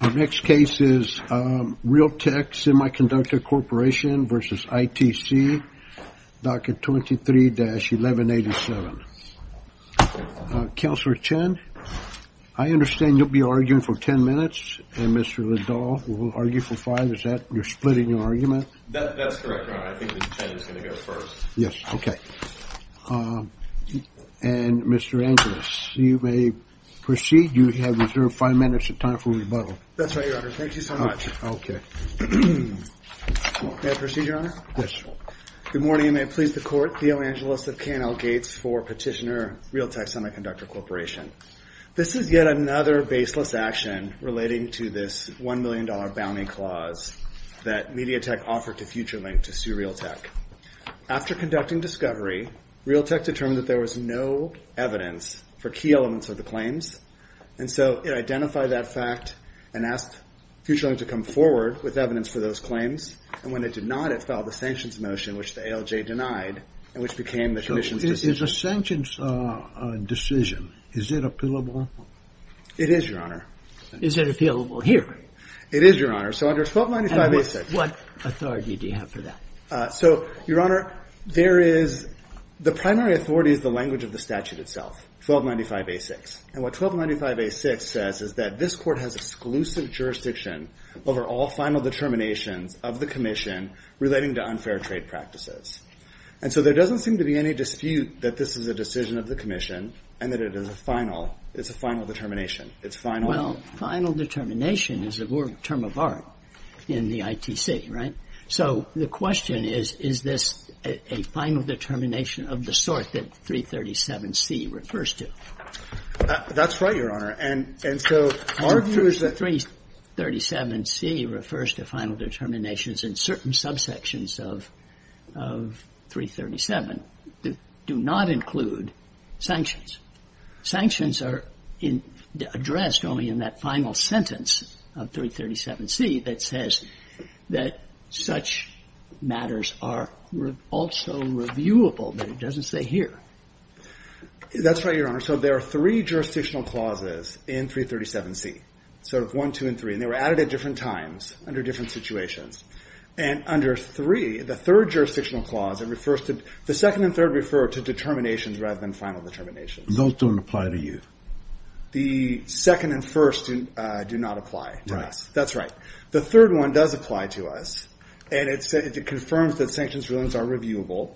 Our next case is Realtek Semiconductor Corporation v. ITC, docket 23-1187. Counselor Chen, I understand you'll be arguing for 10 minutes, and Mr. Liddell will argue for five. Is that you're splitting your argument? That's correct, Ron. I think Mr. Chen is going to go first. Yes, okay. And Mr. Angeles, you may proceed. You have reserved five minutes of time for rebuttal. That's right, Your Honor. Thank you so much. May I proceed, Your Honor? Yes, Your Honor. Good morning, and may it please the Court, Theo Angeles of K&L Gates for petitioner Realtek Semiconductor Corporation. This is yet another baseless action relating to this $1 million bounty clause that Mediatek offered to FutureLink to sue Realtek. After conducting discovery, Realtek determined that there was no evidence for key FutureLink to come forward with evidence for those claims, and when it did not, it filed a sanctions motion, which the ALJ denied, and which became the commission's decision. Is a sanctions decision, is it appealable? It is, Your Honor. Is it appealable here? It is, Your Honor. So under 1295A6 And what authority do you have for that? So, Your Honor, there is the primary authority is the language of the statute itself, 1295A6. And what 1295A6 says is that this Court has exclusive jurisdiction over all final determinations of the commission relating to unfair trade practices. And so there doesn't seem to be any dispute that this is a decision of the commission and that it is a final, it's a final determination. It's final. Well, final determination is a word, term of art in the ITC, right? So the question is, is this a final determination of the sort that 337C refers to? That's right, Your Honor. And so our view is that 337C refers to final determinations in certain subsections of 337 that do not include sanctions. Sanctions are addressed only in that final sentence of 337C that says that such matters are also reviewable, but it doesn't say here. That's right, Your Honor. So there are three jurisdictional clauses in 337C, sort of one, two, and three. And they were added at different times under different situations. And under three, the third jurisdictional clause, it refers to, the second and third refer to determinations rather than final determinations. Those don't apply to you. The second and first do not apply to us. That's right. The third one does apply to us. And it confirms that sanctions are reviewable.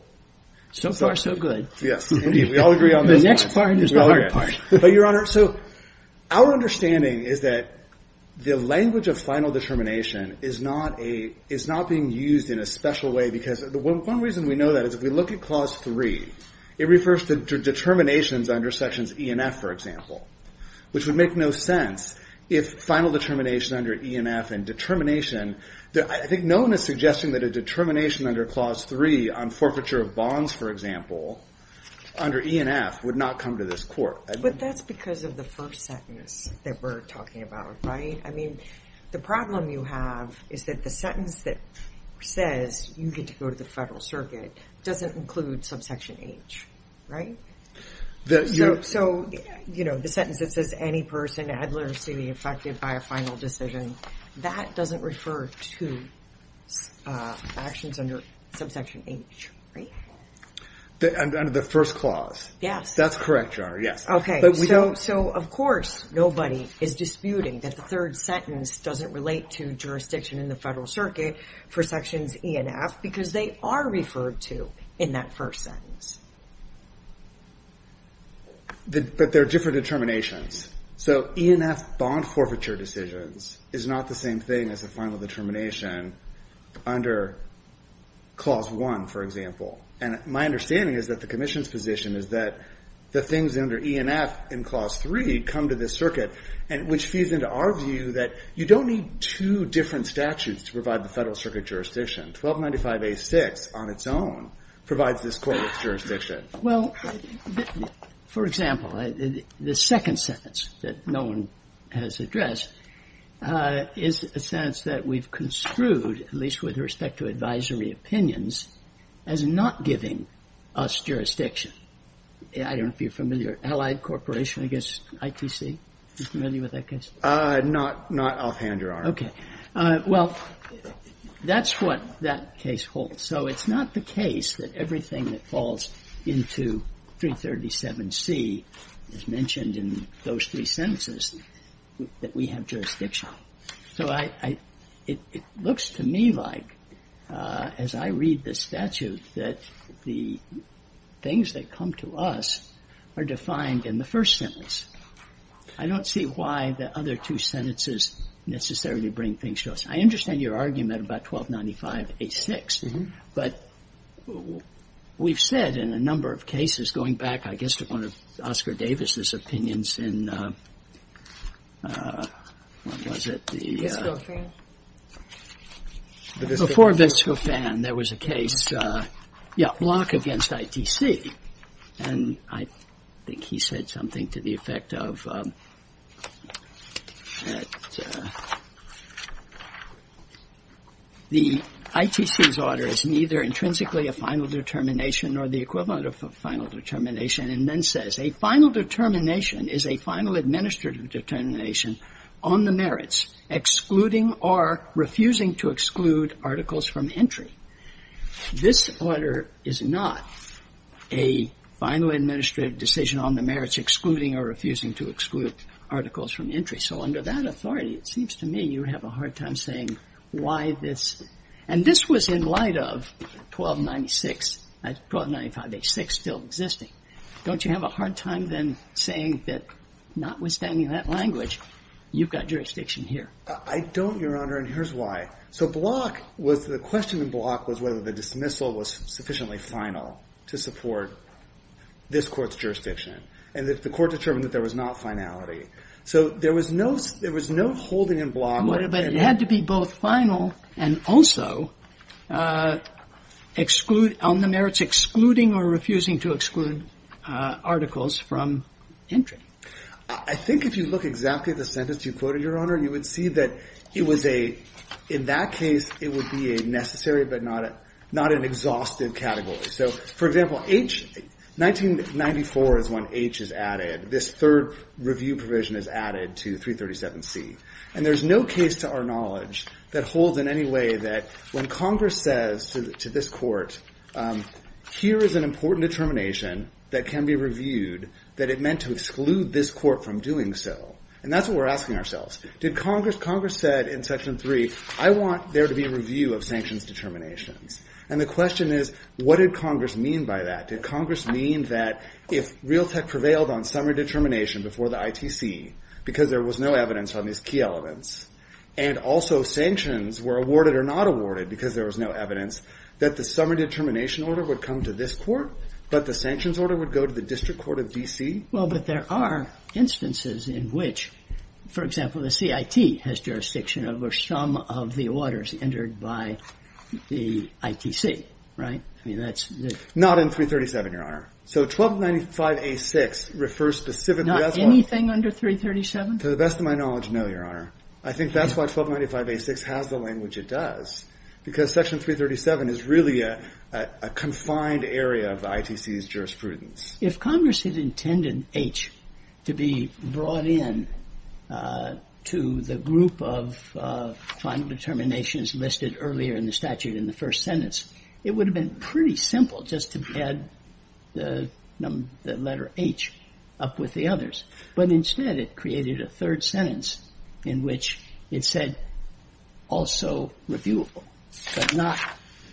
So far, so good. Yes, indeed. We all agree on this one. The next part is the hard part. But, Your Honor, so our understanding is that the language of final determination is not being used in a special way because one reason we know that is if we look at Clause 3, it refers to determinations under Sections E and F, for example, which would make no sense if final determination under E and F and determination, I think no one is suggesting that a determination under Clause 3 on forfeiture of bonds, for example, under E and F would not come to this court. But that's because of the first sentence that we're talking about, right? I mean, the problem you have is that the sentence that says you get to go to the Federal Circuit doesn't include subsection H, right? So, you know, the sentence that says any person affected by a final decision, that doesn't refer to actions under subsection H, right? Under the first clause. Yes. That's correct, Your Honor, yes. Okay. So, of course, nobody is disputing that the third sentence doesn't relate to jurisdiction in the Federal Circuit for Sections E and F because they are referred to in that first sentence. But there are different determinations. So, E and F bond forfeiture decisions is not the same thing as a final determination under Clause 1, for example. And my understanding is that the Commission's position is that the things under E and F in Clause 3 come to this circuit, which feeds into our view that you don't need two different statutes to provide the Federal Circuit jurisdiction. 1295A6 on its own provides this court its jurisdiction. Well, for example, the second sentence that no one has addressed is a sentence that we've construed, at least with respect to advisory opinions, as not giving us jurisdiction. I don't know if you're familiar, Allied Corporation against ITC? Are you familiar with that case? Not offhand, Your Honor. Okay. Well, that's what that case holds. So, it's not the case that everything that falls into 337C is mentioned in those three sentences that we have jurisdiction. So, it looks to me like, as I read this statute, that the things that come to us are defined in the first sentence. I don't see why the other two sentences necessarily bring things to us. I understand your argument about 1295A6, but we've said in a number of cases, going back, I guess, to one of Oscar Davis's opinions in, what was it? Visco Fan. Before Visco Fan, there was a case, yeah, Block against ITC. And I think he said something to the effect of that the ITC's order is neither intrinsically a final determination nor the equivalent of a final determination, and then says, a final determination is a final administrative determination on the merits, excluding or refusing to exclude articles from entry. This order is not a final administrative decision on the merits excluding or refusing to exclude articles from entry. So, under that authority, it seems to me you have a hard time saying why this, and this was in light of 1296, 1295A6 still existing. Don't you have a hard time then saying that notwithstanding that language, you've got jurisdiction here? I don't, Your Honor, and here's why. So, Block was, the question in Block was whether the dismissal was sufficiently final to support this Court's jurisdiction. And if the Court determined that there was not finality. So, there was no holding in Block. But it had to be both final and also on the merits excluding or refusing to exclude articles from entry. I think if you look exactly at the sentence you quoted, Your Honor, you would see that it was a, in that case, it would be a necessary but not an exhaustive category. So, for example, H, 1994 is when H is added. This third review provision is added to 337C. And there's no case to our knowledge that holds in any way that when Congress says to this Court, here is an important determination that can be reviewed, that it meant to exclude this Court from doing so. And that's what we're asking ourselves. Did Congress, Congress said in Section 3, I want there to be a review of sanctions determinations. And the question is, what did Congress mean by that? Did Congress mean that if Real Tech prevailed on summary determination before the ITC because there was no evidence on these key elements, and also sanctions were awarded or not awarded because there was no evidence, that the summary determination order would come to this Court, but the sanctions order would go to the District Court of D.C.? Well, but there are instances in which, for example, the CIT has jurisdiction over some of the orders entered by the ITC, right? I mean, that's the... Not in 337, Your Honor. So 1295A6 refers specifically... Not anything under 337? To the best of my knowledge, no, Your Honor. I think that's why 1295A6 has the language it does, because Section 337 is really a confined area of the ITC's jurisprudence. If Congress had intended H to be brought in to the group of final determinations listed earlier in the statute in the first sentence, it would have been pretty simple just to add the letter H up with the others. But instead it created a third sentence in which it said, also reviewable, but not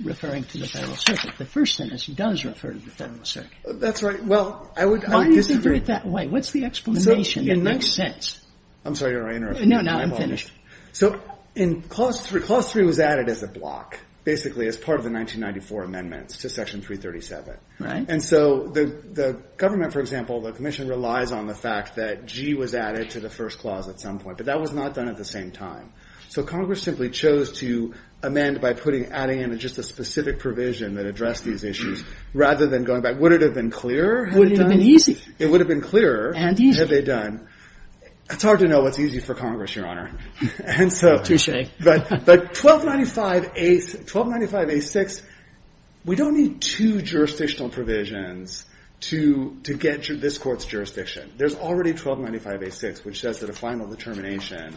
referring to the Federal Circuit. The first sentence does refer to the Federal Circuit. That's right. Well, I would... Why do you think of it that way? What's the explanation? It makes sense. I'm sorry, Your Honor, I interrupted you. No, no, I'm finished. So in Clause 3, Clause 3 was added as a block, basically, as part of the 1994 amendments to Section 337. And so the government, for example, the Commission relies on the fact that G was added to the first clause at some point, but that was not done at the same time. So Congress simply chose to amend by adding in just a specific provision that addressed these issues rather than going Would it have been clearer? Would it have been easy? It would have been clearer. And easy. Had they done. It's hard to know what's easy for Congress, Your Honor. And so... But 1295A6, we don't need two jurisdictional provisions to get to this Court's jurisdiction. There's already 1295A6, which says that a final determination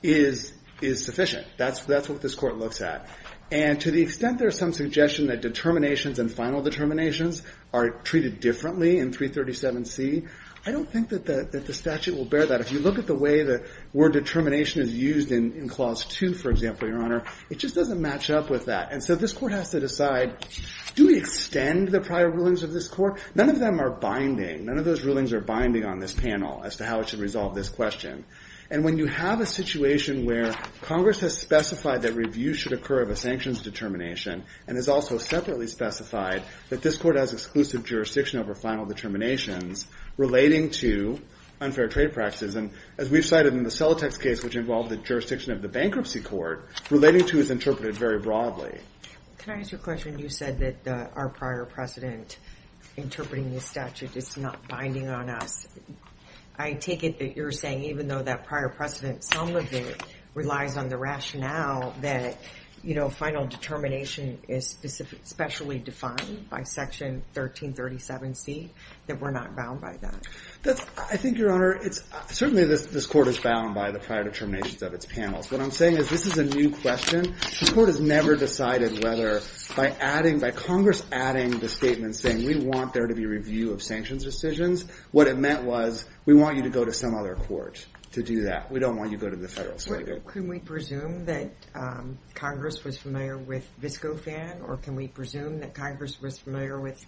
is sufficient. That's what this Court looks at. And to the extent there's some suggestion that determinations and final determinations are treated differently in 337C, I don't think that the statute will bear that. If you look at the way the word determination is used in Clause 2, for example, Your Honor, it just doesn't match up with that. And so this Court has to decide, do we extend the prior rulings of this Court? None of them are binding. None of those rulings are binding on this panel as to how it should resolve this question. And when you have a situation where Congress has specified that review should occur of a sanctions determination, and has also separately specified that this Court has exclusive jurisdiction over final determinations relating to unfair trade practices, and as we've cited in the Celotex case, which involved the jurisdiction of the Bankruptcy Court, relating to is interpreted very broadly. Can I ask you a question? You said that our prior precedent interpreting the statute is not binding on us. I take it that you're saying even though that prior precedent, some of it relies on the rationale that final determination is specially defined by Section 1337C, that we're not bound by that? I think, Your Honor, certainly this Court is bound by the prior determinations of its panels. What I'm saying is this is a new question. This Court has never decided whether, by Congress adding the statement saying we want there to be review of sanctions decisions, what it meant was we want you to go to some other court to do that. We don't want you to go to the Federal Circuit. Can we presume that Congress was familiar with VSCOFAN, or can we presume that Congress was familiar with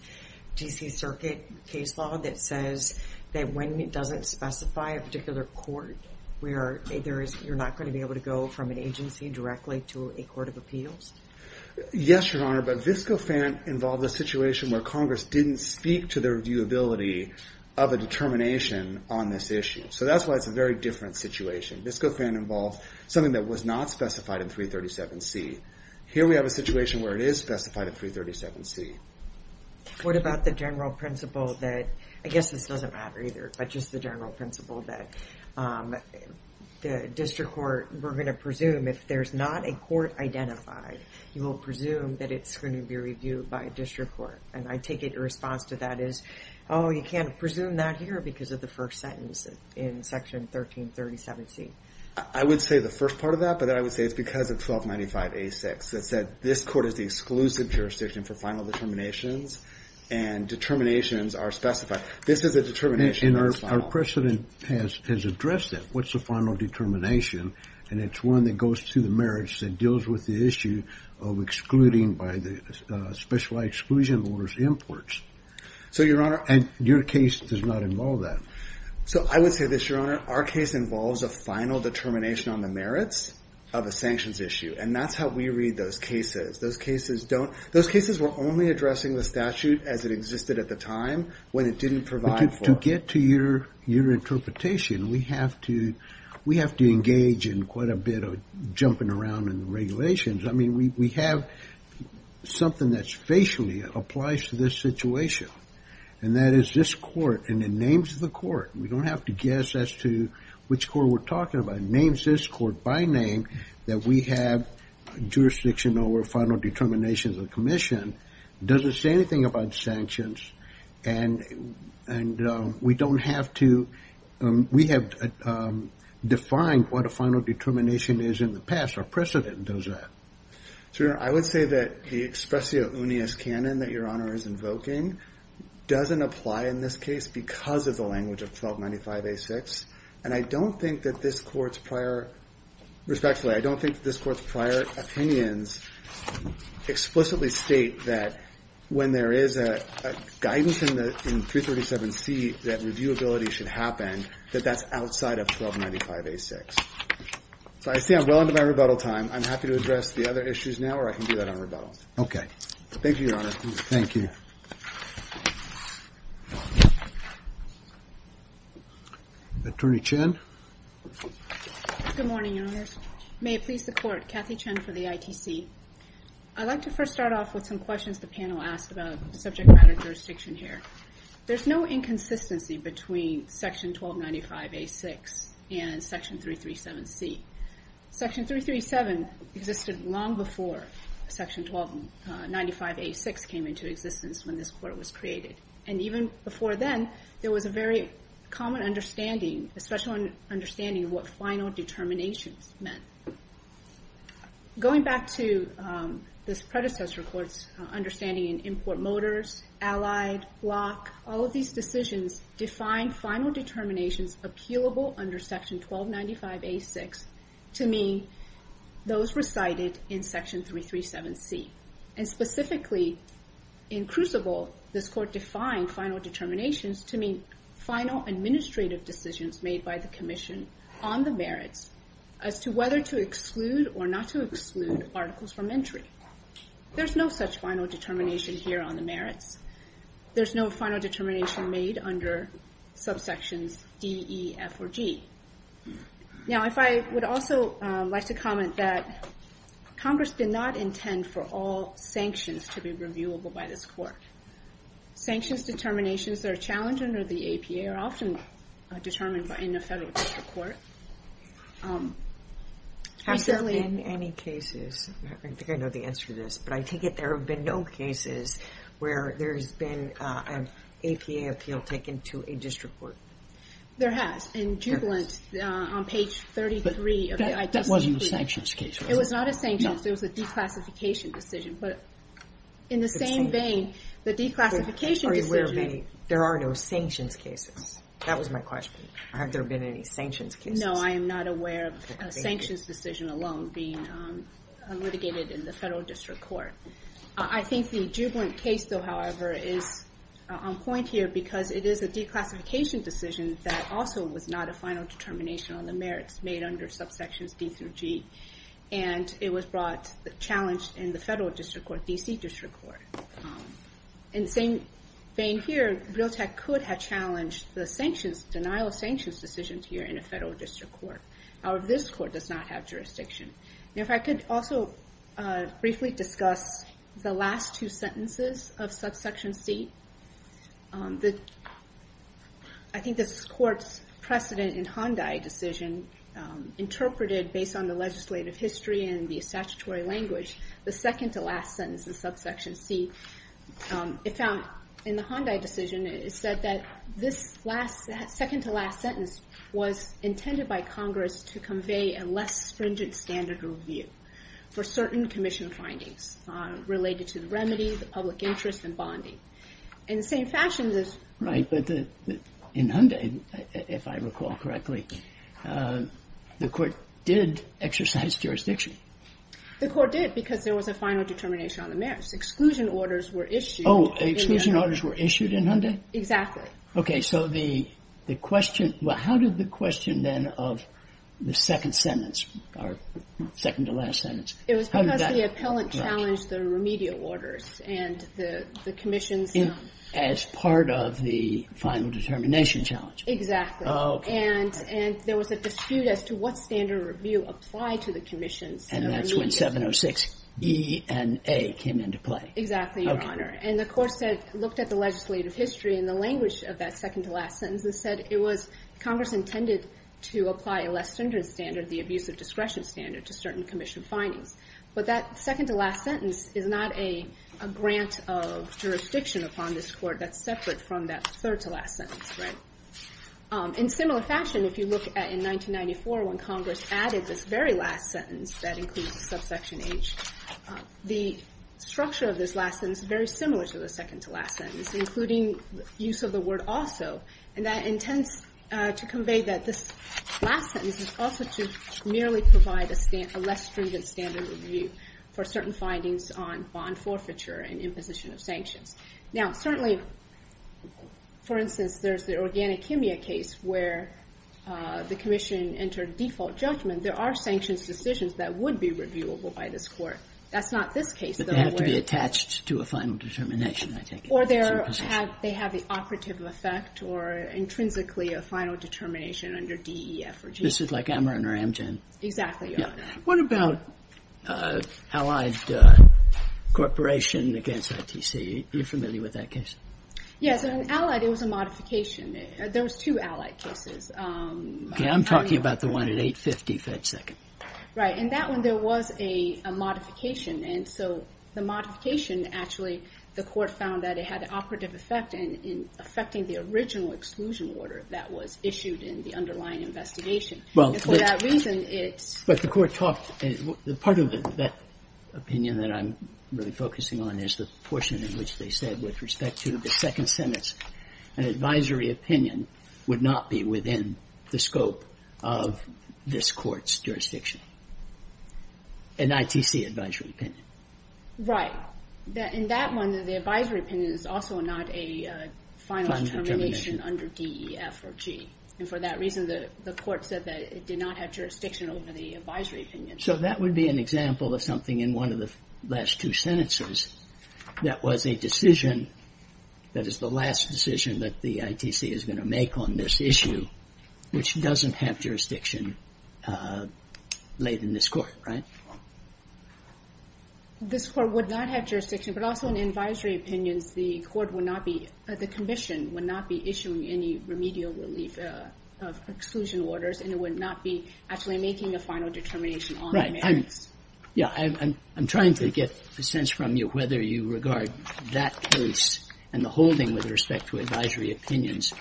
D.C. Circuit case law that says that when it doesn't specify a particular court, you're not going to be able to go from an agency directly to a court of appeals? Yes, Your Honor, but VSCOFAN involved a situation where Congress didn't speak to the reviewability of a determination on this issue. So that's why it's a very different situation. VSCOFAN involved something that was not specified in 337C. Here we have a situation where it is specified in 337C. What about the general principle that, I guess this doesn't matter either, but just the general principle that the district court, we're going to presume if there's not a court identified, you will presume that it's going to be reviewed by a district court. And I take it your response to that is, oh, you can't presume that here because of the first sentence in Section 1337C. I would say the first part of that, but I would say it's because of 1295A6 that said this court is the exclusive jurisdiction for final determinations and determinations are specified. This is a determination that's final. And our precedent has addressed that. What's the final determination? And it's one that goes through the merits that deals with the issue of excluding by the specialized exclusion orders imports. So your honor, and your case does not involve that. So I would say this, your honor, our case involves a final determination on the merits of a sanctions issue. And that's how we read those cases. Those cases don't, those cases were only addressing the statute as it existed at the time when it didn't provide. To get to your, your interpretation, we have to, we have to engage in quite a bit of jumping around in the regulations. I mean, we have something that's applies to this situation. And that is this court and it names the court. We don't have to guess as to which court we're talking about. Names this court by name that we have jurisdiction over final determinations of the commission. Doesn't say anything about sanctions. And, and we don't have to, we have defined what a final determination is in the past. Our precedent does that. So your honor, I would say that the expressio unius canon that your honor is invoking doesn't apply in this case because of the language of 1295A6. And I don't think that this court's prior, respectfully, I don't think this court's prior opinions explicitly state that when there is a guidance in the, in 337C that reviewability should happen, that that's outside of 1295A6. So I see I'm well into my rebuttal time. I'm happy to address the other issues now, or I can do that on rebuttal. Okay. Thank you, your honor. Thank you. Attorney Chen. Good morning, your honors. May it please the court, Kathy Chen for the ITC. I'd like to first start off with some questions the panel asked about subject matter jurisdiction here. There's no inconsistency between section 1295A6 and section 337C. Section 337 existed long before section 1295A6 came into existence when this court was created. And even before then, there was a very common understanding, a special understanding of what final determinations meant. So going back to this predecessor court's understanding in import motors, allied, block, all of these decisions define final determinations appealable under section 1295A6 to mean those recited in section 337C. And specifically in crucible, this court defined final determinations to mean final administrative decisions made by the commission on the merits as to whether to or not to exclude articles from entry. There's no such final determination here on the merits. There's no final determination made under subsections D, E, F, or G. Now if I would also like to comment that Congress did not intend for all sanctions to be reviewable by this court. Sanctions determinations that are challenged under the APA are often determined in a federal district court. Has there been any cases, I think I know the answer to this, but I take it there have been no cases where there's been an APA appeal taken to a district court. There has. In Jubilant on page 33 of the IPCB. That wasn't a sanctions case. It was not a sanctions. It was a declassification decision. But in the same vein, the declassification Are you aware of any, there are no sanctions cases. That was my question. Have there been any sanctions cases? No, I am not aware of a sanctions decision alone being litigated in the federal district court. I think the Jubilant case though, however, is on point here because it is a declassification decision that also was not a final determination on the merits made under subsections D through G. And it was brought, challenged in the federal district court, DC district court. In the same vein here, Realtek could have challenged the sanctions, denial of sanctions decisions here in a federal district court. However, this court does not have jurisdiction. And if I could also briefly discuss the last two sentences of subsection C. I think this court's precedent in Hyundai decision interpreted based on the legislative history and statutory language, the second to last sentence of subsection C. It found in the Hyundai decision, it said that this last second to last sentence was intended by Congress to convey a less stringent standard review for certain commission findings related to the remedy, the public interest and bonding. In the same fashion, this. Right. But in Hyundai, if I recall correctly, the court did exercise jurisdiction. The court did because there was a final determination on the merits, exclusion orders were issued. Oh, exclusion orders were issued in Hyundai? Exactly. Okay. So the question, well, how did the question then of the second sentence or second to last sentence? It was because the appellant challenged the remedial orders and the commissions. As part of the final determination challenge. Exactly. And there was a dispute as to what standard review applied to the commissions. And that's when 706 E and A came into play. Exactly, Your Honor. And the court said, looked at the legislative history and the language of that second to last sentence and said, it was Congress intended to apply a less stringent standard, the abuse of discretion standard to certain commission findings. But that second to last sentence is not a grant of jurisdiction upon this court that's separate from that third to last sentence. Right. In similar fashion, if you look at in 1994, when Congress added this last sentence that includes subsection H, the structure of this last sentence is very similar to the second to last sentence, including use of the word also. And that intends to convey that this last sentence is also to merely provide a less stringent standard review for certain findings on bond forfeiture and imposition of sanctions. Now, certainly, for instance, there's the organic kimia case where the commission entered default judgment. There are sanctions decisions that would be reviewable by this court. That's not this case. But they have to be attached to a final determination, I take it. Or they have the operative effect or intrinsically a final determination under D, E, F, or G. This is like Ameren or Amgen. Exactly, Your Honor. What about Allied Corporation against ITC? Are you familiar with that case? Yes. In Allied, it was a modification. There was two Allied cases. Okay. I'm talking about the one at 850 Fed Second. Right. In that one, there was a modification. And so the modification, actually, the court found that it had an operative effect in affecting the original exclusion order that was issued in the underlying investigation. And for that reason, it's... But the court talked... Part of that opinion that I'm really focusing on is the portion in which they said, with respect to the second sentence, an advisory opinion would not be within the scope of this court's jurisdiction. An ITC advisory opinion. Right. In that one, the advisory opinion is also not a final determination under D, E, F, or G. And for that reason, the court said that it did not have jurisdiction over the advisory opinion. So that would be an example of something in one of the last two sentences that was a decision, that is the last decision that the ITC is going to make on this issue, which doesn't have jurisdiction laid in this court, right? This court would not have jurisdiction, but also in advisory opinions, the court would not be... The commission would not be issuing any remedial relief of exclusion orders, and it would not be actually making a final determination on the merits. Yeah, I'm trying to get a sense from you whether you regard that case and the holding with respect to advisory opinions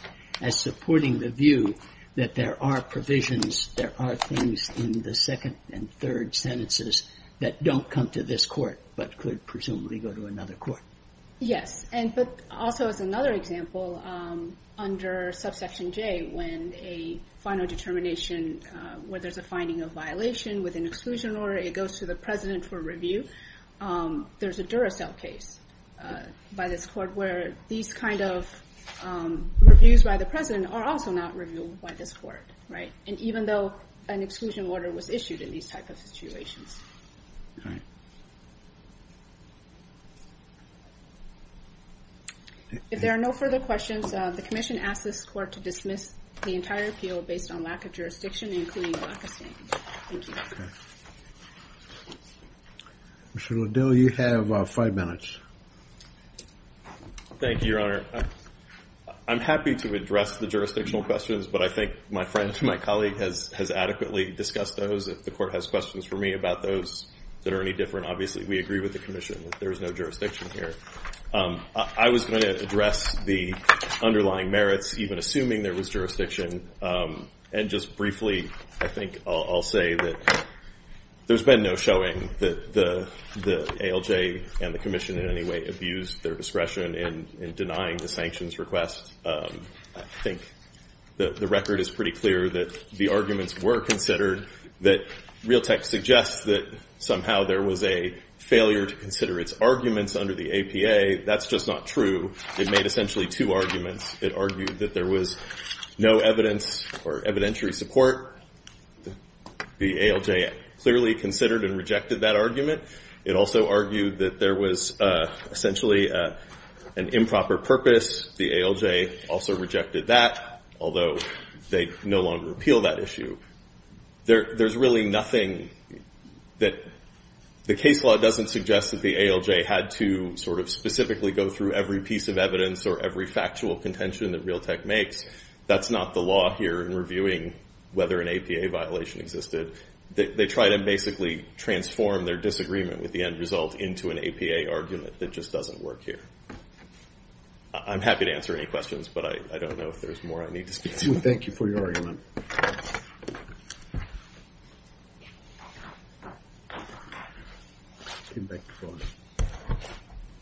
as supporting the view that there are provisions, there are things in the second and third sentences that don't come to this court, but could presumably go to another court. Yes. But also as another example, under subsection J, when a final determination, where there's a finding of violation with an exclusion order, it goes to the president for review. There's a Duracell case by this court where these kind of reviews by the president are also not reviewed by this court, right? And even though an exclusion order was issued in these type of situations. If there are no further questions, the commission asked this court to dismiss the entire appeal based on lack of jurisdiction, including lack of standing. Thank you. Okay. Mr. Lidell, you have five minutes. Thank you, Your Honor. I'm happy to address the jurisdictional questions, but I think my friend, my colleague has adequately discussed those. If the court has questions for me about those that are any different, obviously we agree with the commission that there is no jurisdiction here. I was going to address the underlying merits, even assuming there was jurisdiction. And just briefly, I think I'll say that there's been no showing that the ALJ and the commission in any way abused their discretion in denying the sanctions request. I think the record is pretty clear that the arguments were considered, that Realtek suggests that somehow there was a failure to consider its arguments under the APA. That's just not true. It made essentially two arguments. It argued that there was no evidence or evidentiary support. The ALJ clearly considered and rejected that argument. It also argued that there was essentially an improper purpose. The ALJ also rejected that, although they no longer appeal that issue. There's really nothing that the case law doesn't suggest that the ALJ had to sort of specifically go through every piece of evidence or every factual contention that Realtek makes. That's not the law here in reviewing whether an APA violation existed. They tried to basically transform their disagreement with the end result into an APA argument that just doesn't work here. I'm happy to answer any questions, but I don't know if there's more I need to speak to. Thank you for your argument.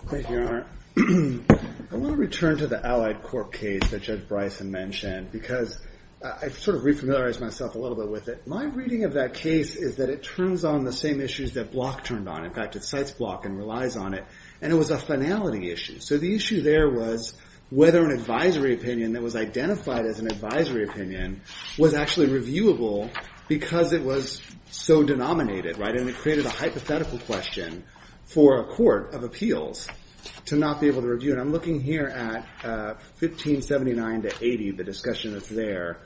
Thank you, Your Honor. I want to return to the Allied Corp case that Judge Bryson mentioned, because I've sort of re-familiarized myself a little bit with it. My reading of that case is that it turns on the same issues that Block turned on. In fact, it cites Block and relies on it, and it was a finality issue. So the issue there was whether an advisory opinion that was identified as an advisory opinion was actually reviewable because it was so denominated. And it created a hypothetical question for a court of appeals to not be able to review. And I'm looking here at 1579 to 80, the discussion that's there,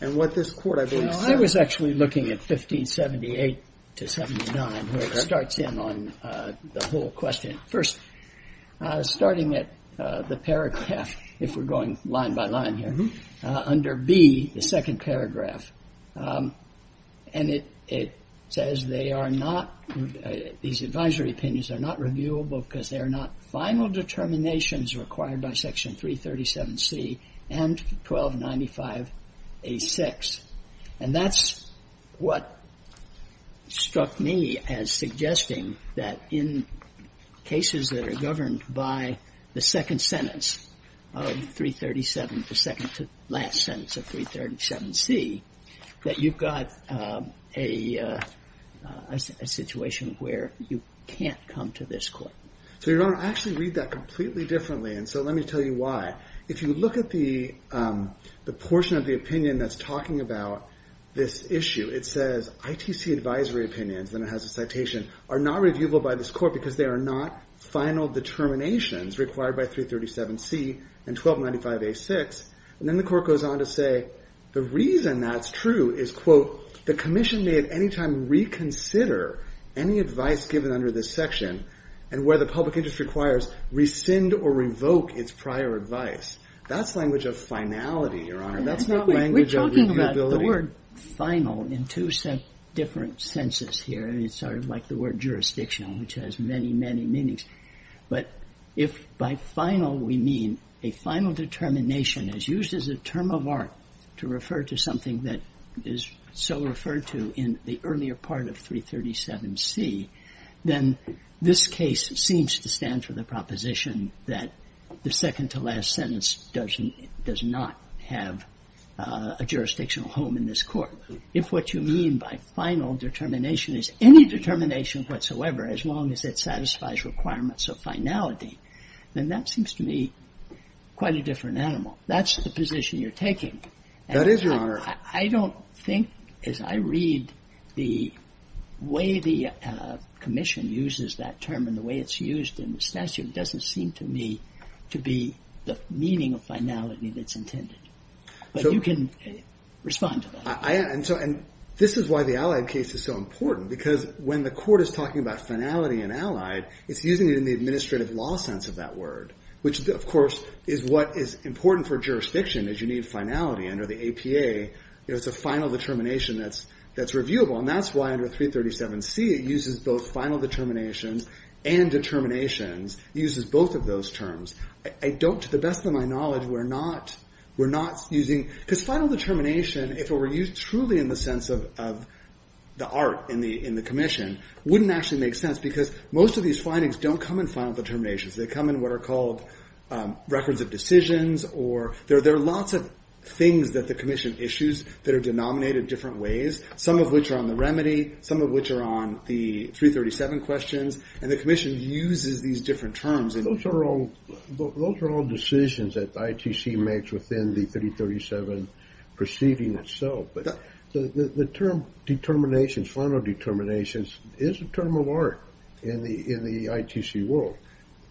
and what this court, I believe, said. I was actually looking at 1578 to 79, where it starts in on the whole question. First, starting at the paragraph, if we're going line by line here, under B, the second paragraph. And it says they are not, these advisory opinions are not reviewable because they are not final determinations required by Section 337C and 1295A6. And that's what struck me as suggesting that in cases that are governed by the second sentence of 337, the second to last sentence of 337C, that you've got a situation where you can't come to this court. So, Your Honor, I actually read that completely differently, and so let me tell you why. If you look at the portion of the opinion that's talking about this issue, it says, ITC advisory opinions, then it has a citation, are not reviewable by this court because they are not final determinations required by 337C and 1295A6. And then the court goes on to say, the reason that's true is, quote, the commission may at any time reconsider any advice given under this section, and where the public interest requires, rescind or revoke its prior advice. That's language of finality, Your Honor. That's not language of reviewability. The word final, in two different senses here, it's sort of like the word jurisdictional, which has many, many meanings. But if by final we mean a final determination as used as a term of art to refer to something that is so referred to in the earlier part of 337C, then this case seems to stand for the proposition that the second to last sentence does not have a jurisdictional home in this court. If what you mean by final determination is any determination whatsoever, as long as it satisfies requirements of finality, then that seems to me quite a different animal. That's the position you're taking. That is, Your Honor. I don't think, as I read the way the commission uses that term and the way it's used in the statute, it doesn't seem to me to be the meaning of finality that's intended. But you can respond to that. I am. And this is why the Allied case is so important, because when the Court is talking about finality in Allied, it's using it in the administrative law sense of that word, which, of course, is what is important for jurisdiction, is you need finality under the APA. It's a final determination that's reviewable, and that's why under 337C it uses both final determinations and determinations. It uses both of those terms. I don't, to the best of my knowledge, we're not using, because final determination, if it were used truly in the sense of the art in the commission, wouldn't actually make sense, because most of these findings don't come in final determinations. They come in what are called records of decisions or there are lots of things that the commission issues that are denominated different ways, some of which are remedy, some of which are on the 337 questions, and the commission uses these different terms. Those are all decisions that the ITC makes within the 337 proceeding itself. But the term determinations, final determinations, is a term of art in the ITC world.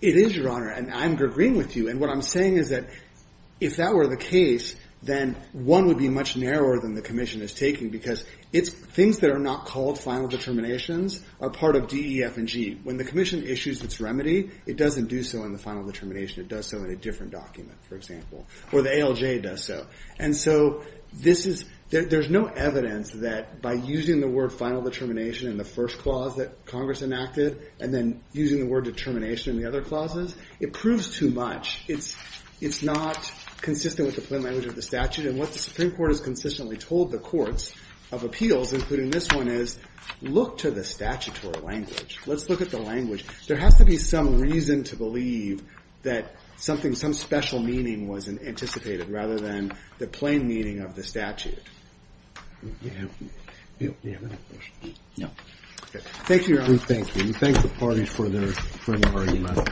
It is, Your Honor, and I'm agreeing with you. And what I'm saying is that if that were the case, then one would be much narrower than the commission is taking, because things that are not called final determinations are part of DEF&G. When the commission issues its remedy, it doesn't do so in the final determination. It does so in a different document, for example, or the ALJ does so. And so there's no evidence that by using the word final determination in the first clause that Congress enacted and then using the word determination in the other clauses, it proves too much. It's not consistent with the plain language of the statute. And what the Supreme Court has consistently told the courts of appeals, including this one, is look to the statutory language. Let's look at the language. There has to be some reason to believe that something, some special meaning was anticipated, rather than the plain meaning of the statute. Do you have another question? No. Okay. Thank you, Your Honor. Thank you. We thank the parties for their, for their argument.